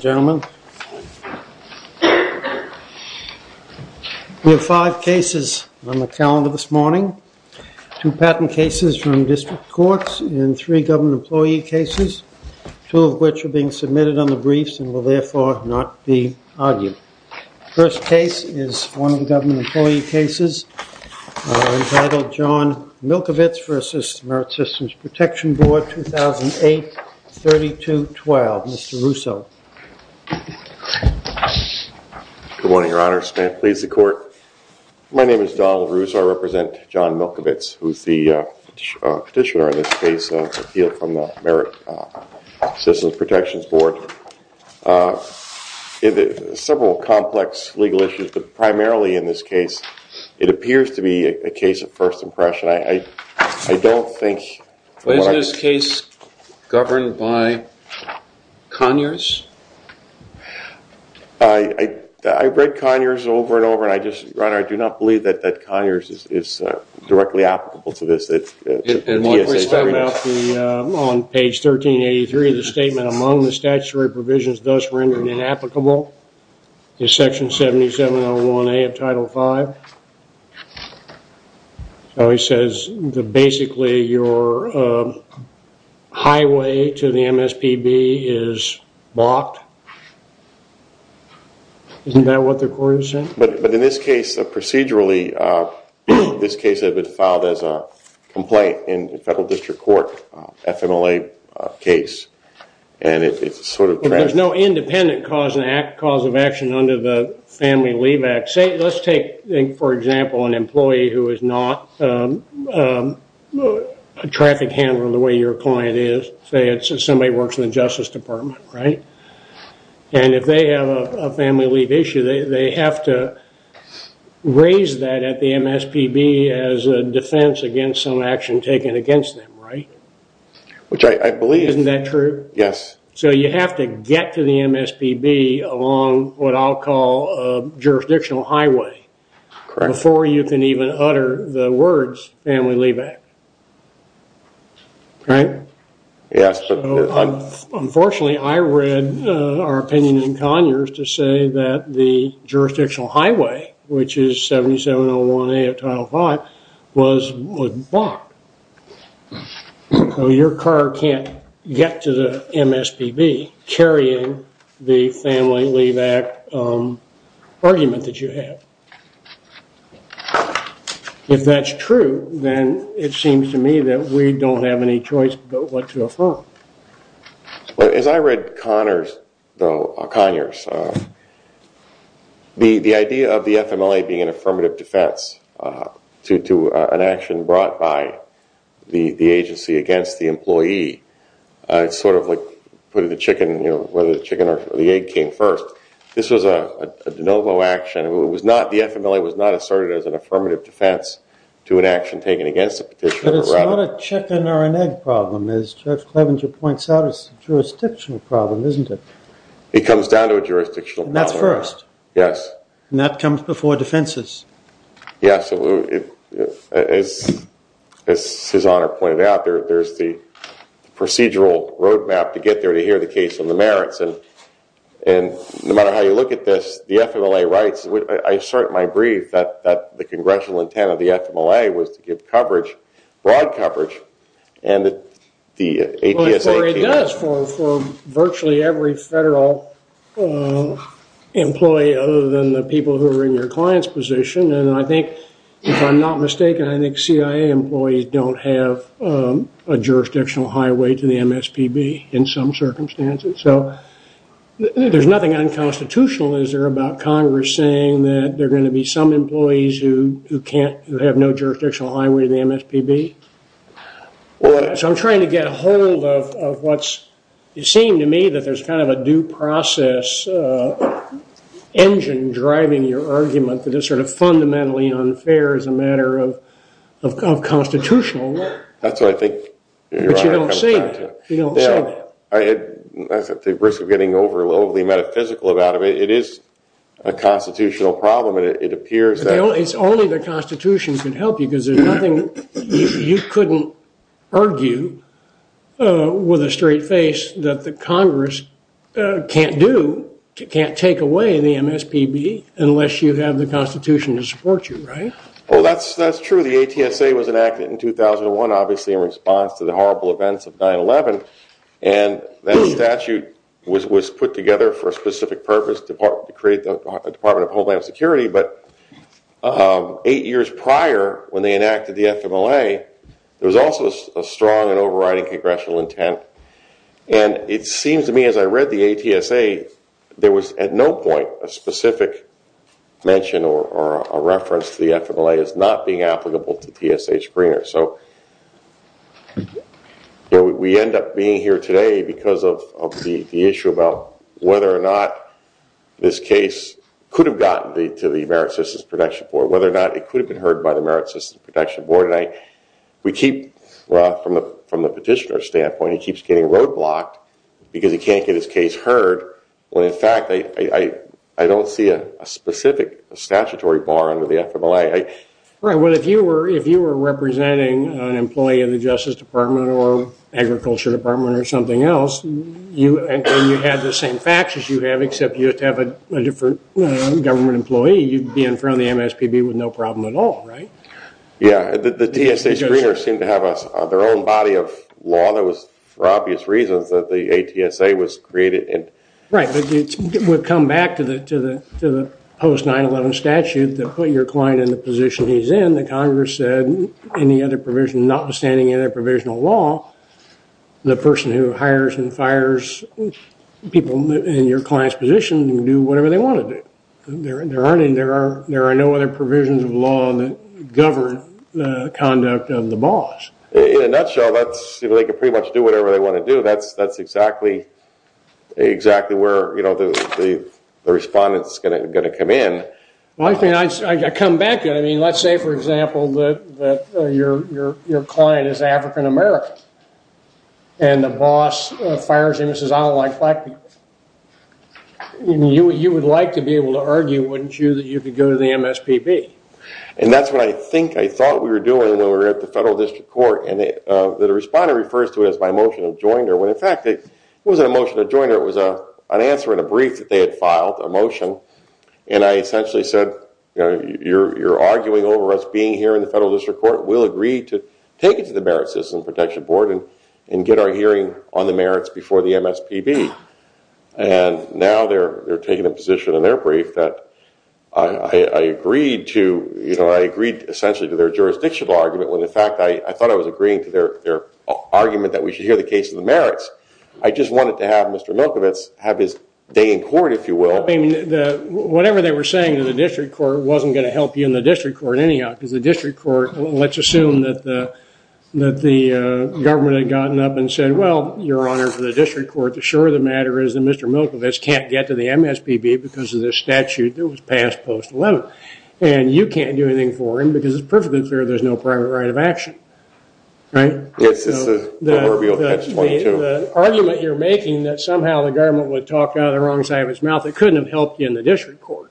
We have five cases on the calendar this morning, two patent cases from district courts and three government employee cases, two of which are being submitted on the briefs and will therefore not be argued. First case is one of the government employee cases, entitled John Milkovits v. Merit Systems Protection Board, 2008-32-12. Mr. Russo. MR. RUSSO Good morning, Your Honor. May it please the Court? My name is Donald Russo. I represent John Milkovits, who is the petitioner in this case. It's an appeal from the Merit Systems Protection Board. Several complex legal issues, but primarily in this case, it appears to be a case of first impression. I don't think... THE COURT Is this case governed by Conyers? MR. RUSSO I read Conyers over and over, and I just, Your Honor, I do not believe that Conyers is directly applicable to this. THE COURT And what we found out on page 1383 of the statement among the statutory provisions thus rendered inapplicable is section 7701A of Title V. So he says, basically, your highway to the MSPB is blocked. Isn't that what the Court is saying? MR. RUSSO But in this case, procedurally, this case had been filed as a complaint in the Federal District Court, FMLA case, and it's sort of... THE COURT There's no independent cause of action under the Family Leave Act. Let's take, for example, an employee who is not a traffic handler the way your client is. Say somebody works in the Justice Department, right? And if they have a family leave issue, they have to raise that at the MSPB as a defense against some action taken against them, right? MR. RUSSO Which I believe... THE COURT Isn't that true? MR. RUSSO Yes. THE COURT So you have to get to the MSPB along what I'll call a jurisdictional highway before you can even utter the words Family Leave Act, right? MR. RUSSO Yes, but... THE COURT Unfortunately, I read our opinion in Conyers to say that the jurisdictional highway, which is 7701A of Title V, was blocked. So your car can't get to the MSPB carrying the Family Leave Act argument that you have. If that's true, then it seems to me that we don't have any choice but what to affirm. MR. KURTZ As I read Conyers, the idea of the FMLA being an FLE, it's sort of like whether the chicken or the egg came first. This was a de novo action. The FMLA was not asserted as an affirmative defense to an action taken against a petitioner. MR. KURTZ But it's not a chicken or an egg problem. As Judge Clevenger points out, it's a jurisdictional problem, isn't it? MR. KURTZ It comes down to a jurisdictional problem. MR. KURTZ And that's first? MR. KURTZ Yes. MR. KURTZ And that comes before defenses? MR. KURTZ Yes. As his Honor pointed out, there's the procedural road map to get there to hear the case on the merits. And no matter how you look at this, the FMLA rights, I assert in my brief that the congressional intent of the FMLA was to give coverage, broad coverage, and that the APS 18- MR. KURTZ Well, it does for virtually every federal employee other than the people who are in your client's position. And I think, if I'm not mistaken, I think CIA employees don't have a jurisdictional highway to the MSPB in some circumstances. So there's nothing unconstitutional, is there, about Congress saying that there are going to be some employees who have no jurisdictional highway to the MSPB? So I'm trying to get a hold of what's it saying to me that there's kind of a due process engine driving your argument that it's sort of fundamentally unfair as a matter of constitutional law. MR. KURTZ That's what I think your Honor comes back to. MR. KURTZ But you don't say that. You don't say that. MR. KURTZ Yeah. I think the risk of getting overly metaphysical about it, it is a constitutional problem. It appears that- MR. KURTZ It's only the Constitution can help you because there's nothing you couldn't argue with a straight face that the Congress can't do, can't take away the MSPB unless you have the Constitution to support you, right? MR. KURTZ Well, that's true. The ATSA was enacted in 2001, obviously in response to the horrible events of 9-11. And that statute was put together for a specific purpose, to create the Department of Homeland Security. But eight years prior, when they enacted the statute, there was no overriding congressional intent. And it seems to me as I read the ATSA, there was at no point a specific mention or a reference to the FMLA as not being applicable to TSA screeners. So we end up being here today because of the issue about whether or not this case could have gotten to the Merit Systems Protection Board, whether or not it could have gotten to the FMLA. MR. KURTZ Well, I don't see a specific statutory bar under the FMLA. MR. KING Well, if you were representing an employee in the Justice Department or Agriculture Department or something else, and you had the same faxes you have, except you have a different government employee, you'd be in front of the MSPB with no problem at all, right? MR. KURTZ Yeah. The TSA screeners seem to have their own body of law that was, for obvious reasons, that the ATSA was created in. MR. KING Right. But we've come back to the post-9-11 statute that put your client in the position he's in. The Congress said any other provision, notwithstanding any other provisional law, the person who hires and fires people in your client's position can do whatever they want to do. There are no other provisions of law that govern the conduct of the boss. MR. KURTZ In a nutshell, they can pretty much do whatever they want to do. That's exactly where the respondent's going to come in. MR. KING I come back to it. Let's say, for example, that your client is African-American and the boss fires him and says, I don't like black people. You would like to be able to argue, wouldn't you, that you could go to the MSPB? That's what I think I thought we were doing when we were at the Federal District Court. The respondent refers to it as my motion of joinder when, in fact, it wasn't a motion of joinder. It was an answer in a brief that they had filed, a motion. I essentially said, you're arguing over us being here in the Federal District Court. We'll agree to take it to the Merit System Protection Board and get our hearing on the merits before the MSPB. Now they're taking a position in their brief that I agreed to their jurisdictional argument when, in fact, I thought I was agreeing to their argument that we should hear the case of the merits. I just wanted to have Mr. Milkovich have his day in court, if you will. MR. KURTZ Whatever they were saying to the District Court wasn't going to help you in the District Court anyhow. Let's assume that the government had gotten up and said, well, Your Honor, for the District Court to assure the matter is that Mr. Milkovich can't get to the MSPB because of this statute that was passed post-11. And you can't do anything for him because it's perfectly clear there's no private right of action. MR. MILKOVICH Yes, it's the proverbial catch-22. MR. KURTZ The argument you're making that somehow the government would talk out of the wrong side of its mouth, it couldn't have helped you in the District Court.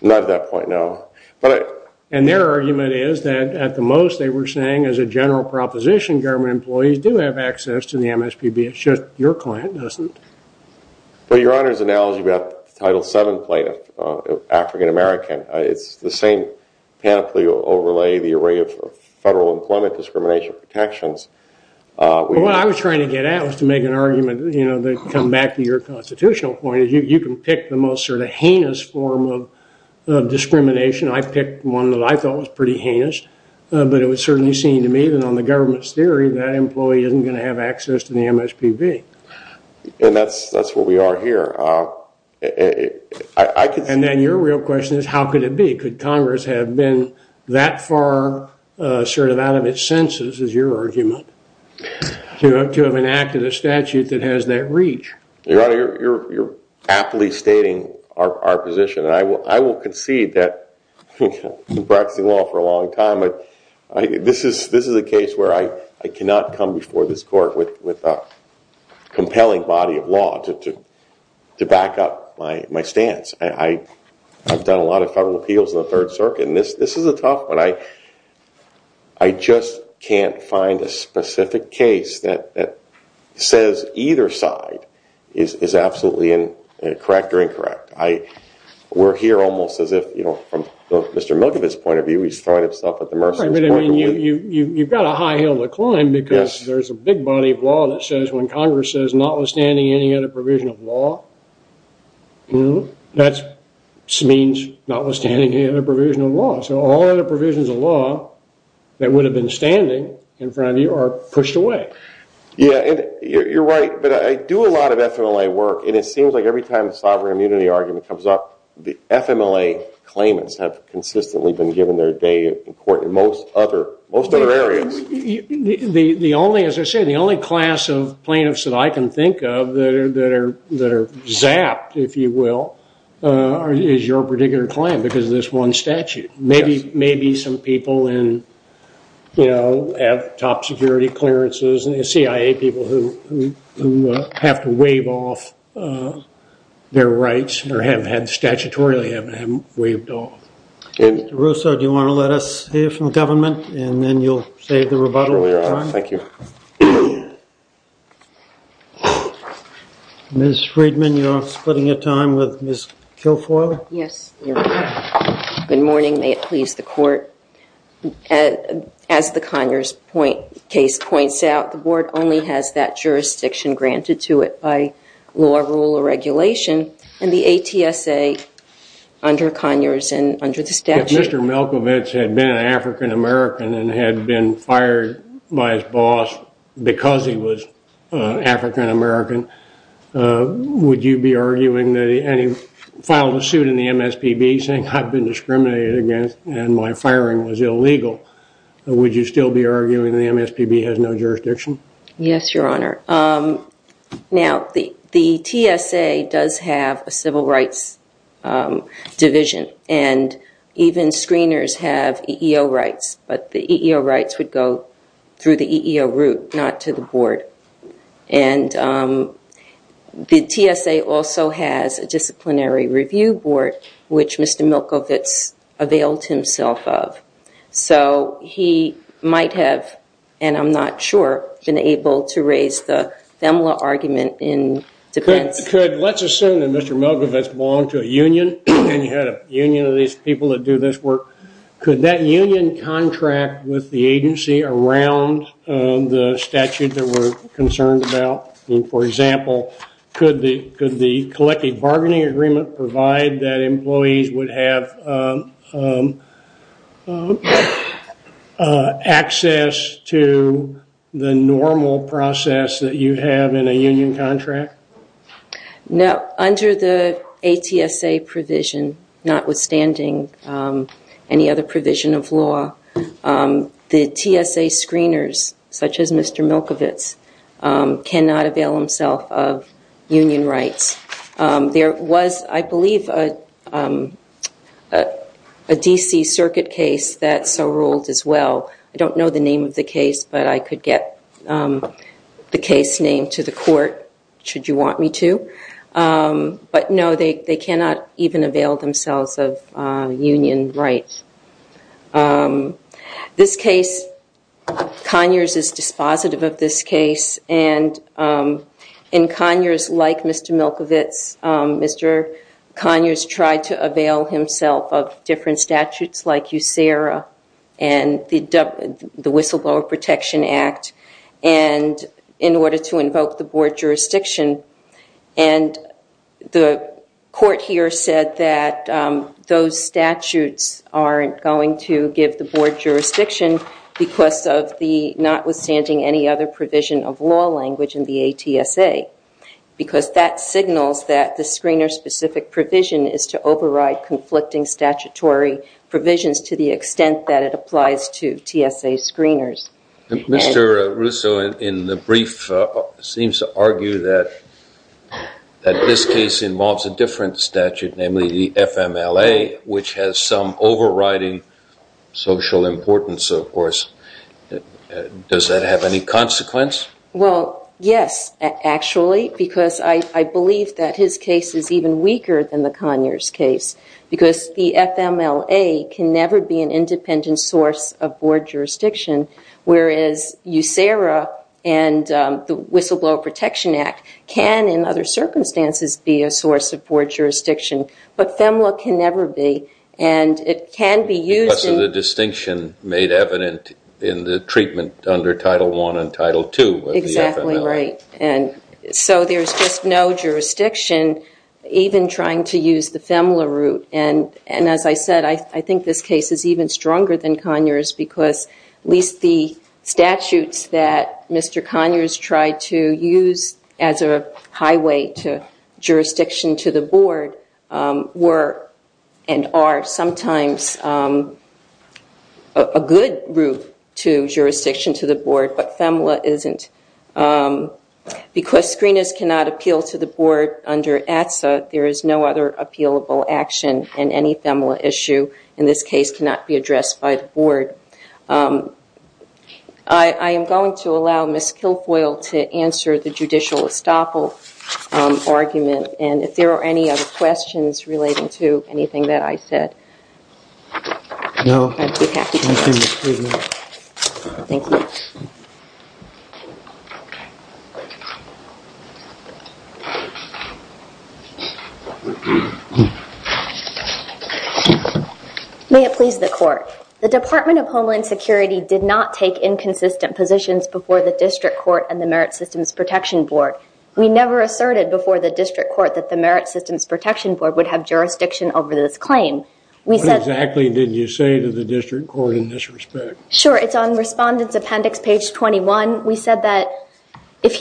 MR. MILKOVICH Not at that point, no. MR. KURTZ And their argument is that, at the most, they were saying, as a general proposition, government employees do have access to the MSPB. It's just your client doesn't. MR. MILKOVICH Well, Your Honor's analogy about the Title VII plaintiff, African-American, it's the same panoply overlay, the array of federal employment discrimination protections. MR. KURTZ Well, what I was trying to get at was to make an argument that would come back to your constitutional point. You can pick the most sort of heinous form of discrimination. I picked one that I thought was pretty heinous. But it would certainly seem to me that on the government's theory, that employee isn't going to have access to the MSPB. MR. MILKOVICH And that's where we are here. MR. KURTZ And then your real question is, how could it be? Could Congress have been that far sort of out of its senses, is your argument, to have enacted a statute that has that reach? MR. MILKOVICH Your Honor, you're aptly stating our position. And I will concede that we've come before this Court with a compelling body of law to back up my stance. I've done a lot of federal appeals in the Third Circuit, and this is a tough one. I just can't find a specific case that says either side is absolutely correct or incorrect. We're here almost as if, from Mr. Milkovich's point of view, he's throwing himself at the merciless point of view. MR. KURTZ I'm sorry, but you've got a high hill to climb because there's a big body of law that says when Congress says notwithstanding any other provision of law, that means notwithstanding any other provision of law. So all other provisions of law that would have been standing in front of you are pushed away. MR. MILKOVICH Yeah, you're right. But I do a lot of FMLA work, and it seems like every time a sovereign immunity argument comes up, the FMLA claimants have consistently been given their day in court in most other areas. MR. KURTZ The only, as I said, the only class of plaintiffs that I can think of that are zapped, if you will, is your particular claim because of this one statute. Maybe some people in, you know, have top security clearances and the CIA people who have to waive off their rights or have had statutorily waived off. MR. MILLIKOVICH Mr. Russo, do you want to let us hear from the government and then you'll save the rebuttal time? MR. RUSSO Sure, we are. Thank you. MR. MILLIKOVICH Ms. Friedman, you're splitting your time with Ms. Kilfoyle? MS. KILFOYLE Yes, you're right. Good morning. May it please the court. As the Conyers case points out, the board only has that jurisdiction granted to it by law, rule, or regulation, and the ATSA under Conyers and under the statute. MR. MILLIKOVICH If Mr. Milkovich had been an African-American and had been fired by his boss because he was African-American, would you be arguing, and he filed a suit in the MSPB saying I've been discriminated against and my firing was illegal, would you still be arguing the MSPB has no jurisdiction? MS. KILFOYLE Yes, Your Honor. Now, the TSA does have a civil rights division and even screeners have EEO rights, but the EEO rights would go through the EEO route, not to the board. And the TSA also has a disciplinary review board, which Mr. Milkovich availed himself of. So he might have, and I'm not sure, been able to raise the FEMLA argument in defense. MR. MILLIKOVICH Let's assume that Mr. Milkovich belonged to a union and you had a union of these people that do this work. Could that union contract with the agency around the statute that we're concerned about? For example, could the collective bargaining agreement provide that employees would have access to the normal process that you have in a union contract? MS. KILFOYLE No, under the ATSA provision, notwithstanding any other provision of law, the TSA screeners, such as Mr. Milkovich, cannot avail themselves of union rights. There was, I believe, a D.C. Circuit case that so ruled as well. I don't know the name of the case, but I could get the case name to the court, should you want me to. But no, they cannot even avail themselves of union rights. This case, Conyers is dispositive of this case, and in Conyers, like Mr. Milkovich, Mr. Conyers tried to avail himself of different statutes like USERRA and the Whistleblower Protection Act in order to invoke the board jurisdiction. The court here said that those statutes aren't going to give the board jurisdiction because of the notwithstanding any other provision of law language in the ATSA, because that signals that the screener-specific provision is to override conflicting statutory provisions to the extent that it applies to TSA screeners. MR. ALTMAN Mr. Russo, in the brief, seems to argue that this case involves a different statute, namely the FMLA, which has some overriding social importance, of course. Does that have any consequence? MS. MCCARTY Well, yes, actually, because I believe that his case is even weaker than the Conyers case, because the FMLA can never be an independent source of board jurisdiction, whereas USERRA and the Whistleblower Protection Act can, in other circumstances, be a source of board jurisdiction. But FMLA can never be, and it can be used in the same way. MR. ALTMAN And that's a distinction made evident in the treatment under Title I and Title II MS. MCCARTY Exactly, right. And so there's just no jurisdiction, even trying to use the FMLA route. And as I said, I think this case is even stronger than Conyers, because at least the statutes that Mr. Conyers tried to use as a highway to jurisdiction to the board, a good route to jurisdiction to the board, but FMLA isn't. Because screeners cannot appeal to the board under ATSA, there is no other appealable action, and any FMLA issue in this case cannot be addressed by the board. I am going to allow Ms. Kilfoyle to answer the judicial estoppel argument, and if there are any other questions relating to anything that I said, I'd be happy to address them. MR. ALTMAN Thank you, Ms. Kilfoyle. MS. KILFOYLE May it please the Court, the Department of Homeland Security did not take inconsistent positions before the District Court and the Merit Systems Protection Board. We never asserted before the District Court that the Merit Systems Protection Board would have jurisdiction over this claim. MR. ALTMAN What exactly did you say to the District Court in this respect? MS. KILFOYLE Sure, it's on Respondent's Appendix, page 21. We said that if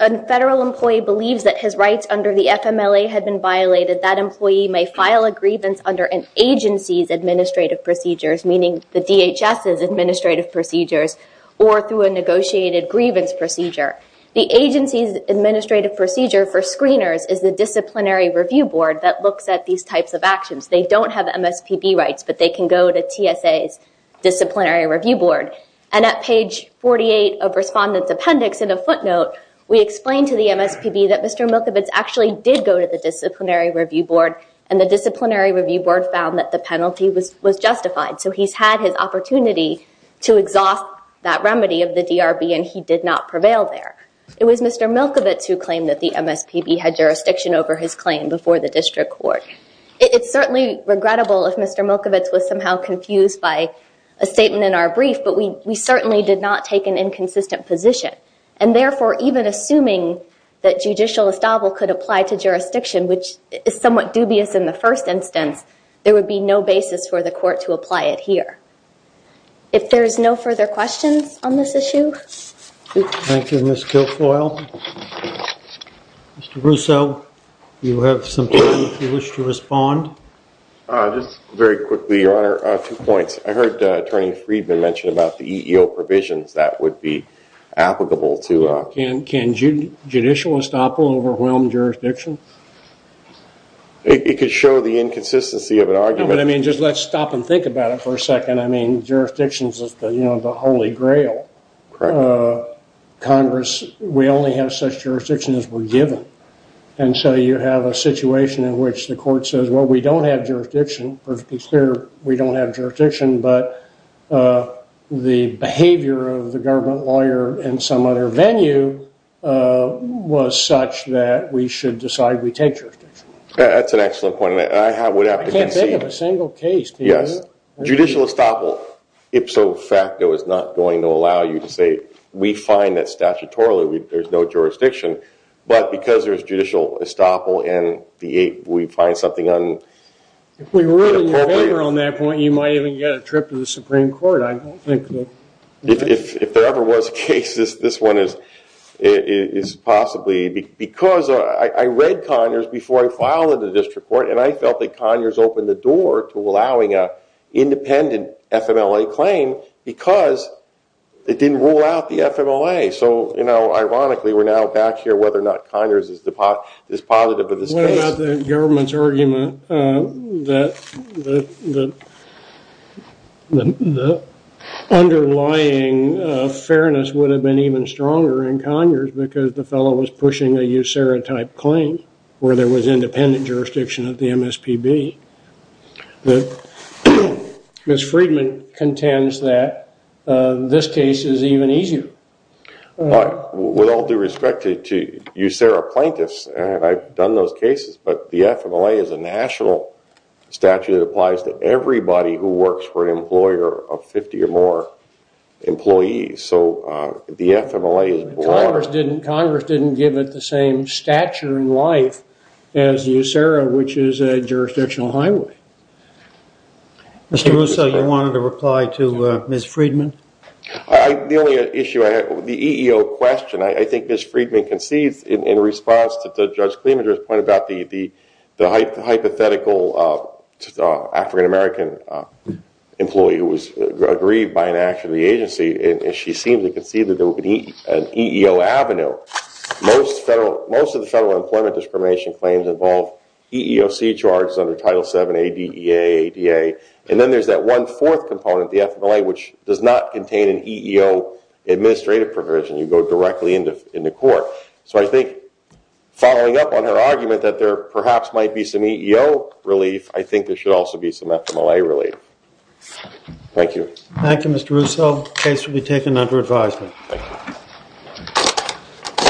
a federal employee believes that his rights under the FMLA had been violated, that employee may file a grievance under an agency's administrative procedures, meaning the DHS's administrative procedures, or through a negotiated grievance procedure. The agency's administrative procedure for these types of actions. They don't have MSPB rights, but they can go to TSA's Disciplinary Review Board. And at page 48 of Respondent's Appendix, in a footnote, we explain to the MSPB that Mr. Milkovich actually did go to the Disciplinary Review Board, and the Disciplinary Review Board found that the penalty was justified. So he's had his opportunity to exhaust that remedy of the DRB, and he did not prevail there. It was Mr. Milkovich who claimed that the MSPB had jurisdiction over his claim before the District Court. It's certainly regrettable if Mr. Milkovich was somehow confused by a statement in our brief, but we certainly did not take an inconsistent position. And therefore, even assuming that judicial estable could apply to jurisdiction, which is somewhat dubious in the first instance, there would be no basis for the court to apply it here. If there is no further questions on this issue? Thank you, Ms. Kilfoyle. Mr. Brousseau, you have some time if you wish to respond. Just very quickly, Your Honor, two points. I heard Attorney Friedman mention about the EEO provisions that would be applicable to... Can judicial estable overwhelm jurisdiction? It could show the inconsistency of an argument... No, but I mean, just let's stop and think about it for a second. I mean, jurisdictions are the holy grail. Congress, we only have such jurisdictions as we're given. And so you have a situation in which the court says, well, we don't have jurisdiction. We don't have jurisdiction, but the behavior of the government lawyer in some other venue was such that we should decide we take jurisdiction. That's an excellent point, and I would have to concede... Judicial estable, ipso facto, is not going to allow you to say we find that statutorily there's no jurisdiction. But because there's judicial estable and we find something inappropriate... If we were in your favor on that point, you might even get a trip to the Supreme Court. If there ever was a case, this one is possibly... Because I read Conyers before I filed into district court, and I felt that Conyers opened the door to allowing an independent FMLA claim because it didn't rule out the FMLA. So ironically, we're now back here whether or not Conyers is positive of this case. What about the government's argument that the underlying fairness would have been even stronger in Conyers because the fellow was pushing a USERRA-type claim where there was jurisdiction of the MSPB? Ms. Friedman contends that this case is even easier. With all due respect to USERRA plaintiffs, I've done those cases, but the FMLA is a national statute that applies to everybody who works for an employer of 50 or more employees. So the FMLA is... Congress didn't give it the same stature in life as USERRA, which is a jurisdictional highway. Mr. Russo, you wanted to reply to Ms. Friedman? The only issue I had... The EEO question, I think Ms. Friedman concedes in response to Judge Clemenger's point about the hypothetical African American employee who was aggrieved by an agency, and she seems to concede that there would be an EEO avenue. Most of the federal employment discrimination claims involve EEOC charges under Title VII, ADEA, ADA, and then there's that one fourth component, the FMLA, which does not contain an EEO administrative provision. You go directly into court. So I think following up on her argument that there perhaps might be some EEO relief, I think there should also be some FMLA relief. Thank you. Thank you, Mr. Russo. Case will be taken under advisement.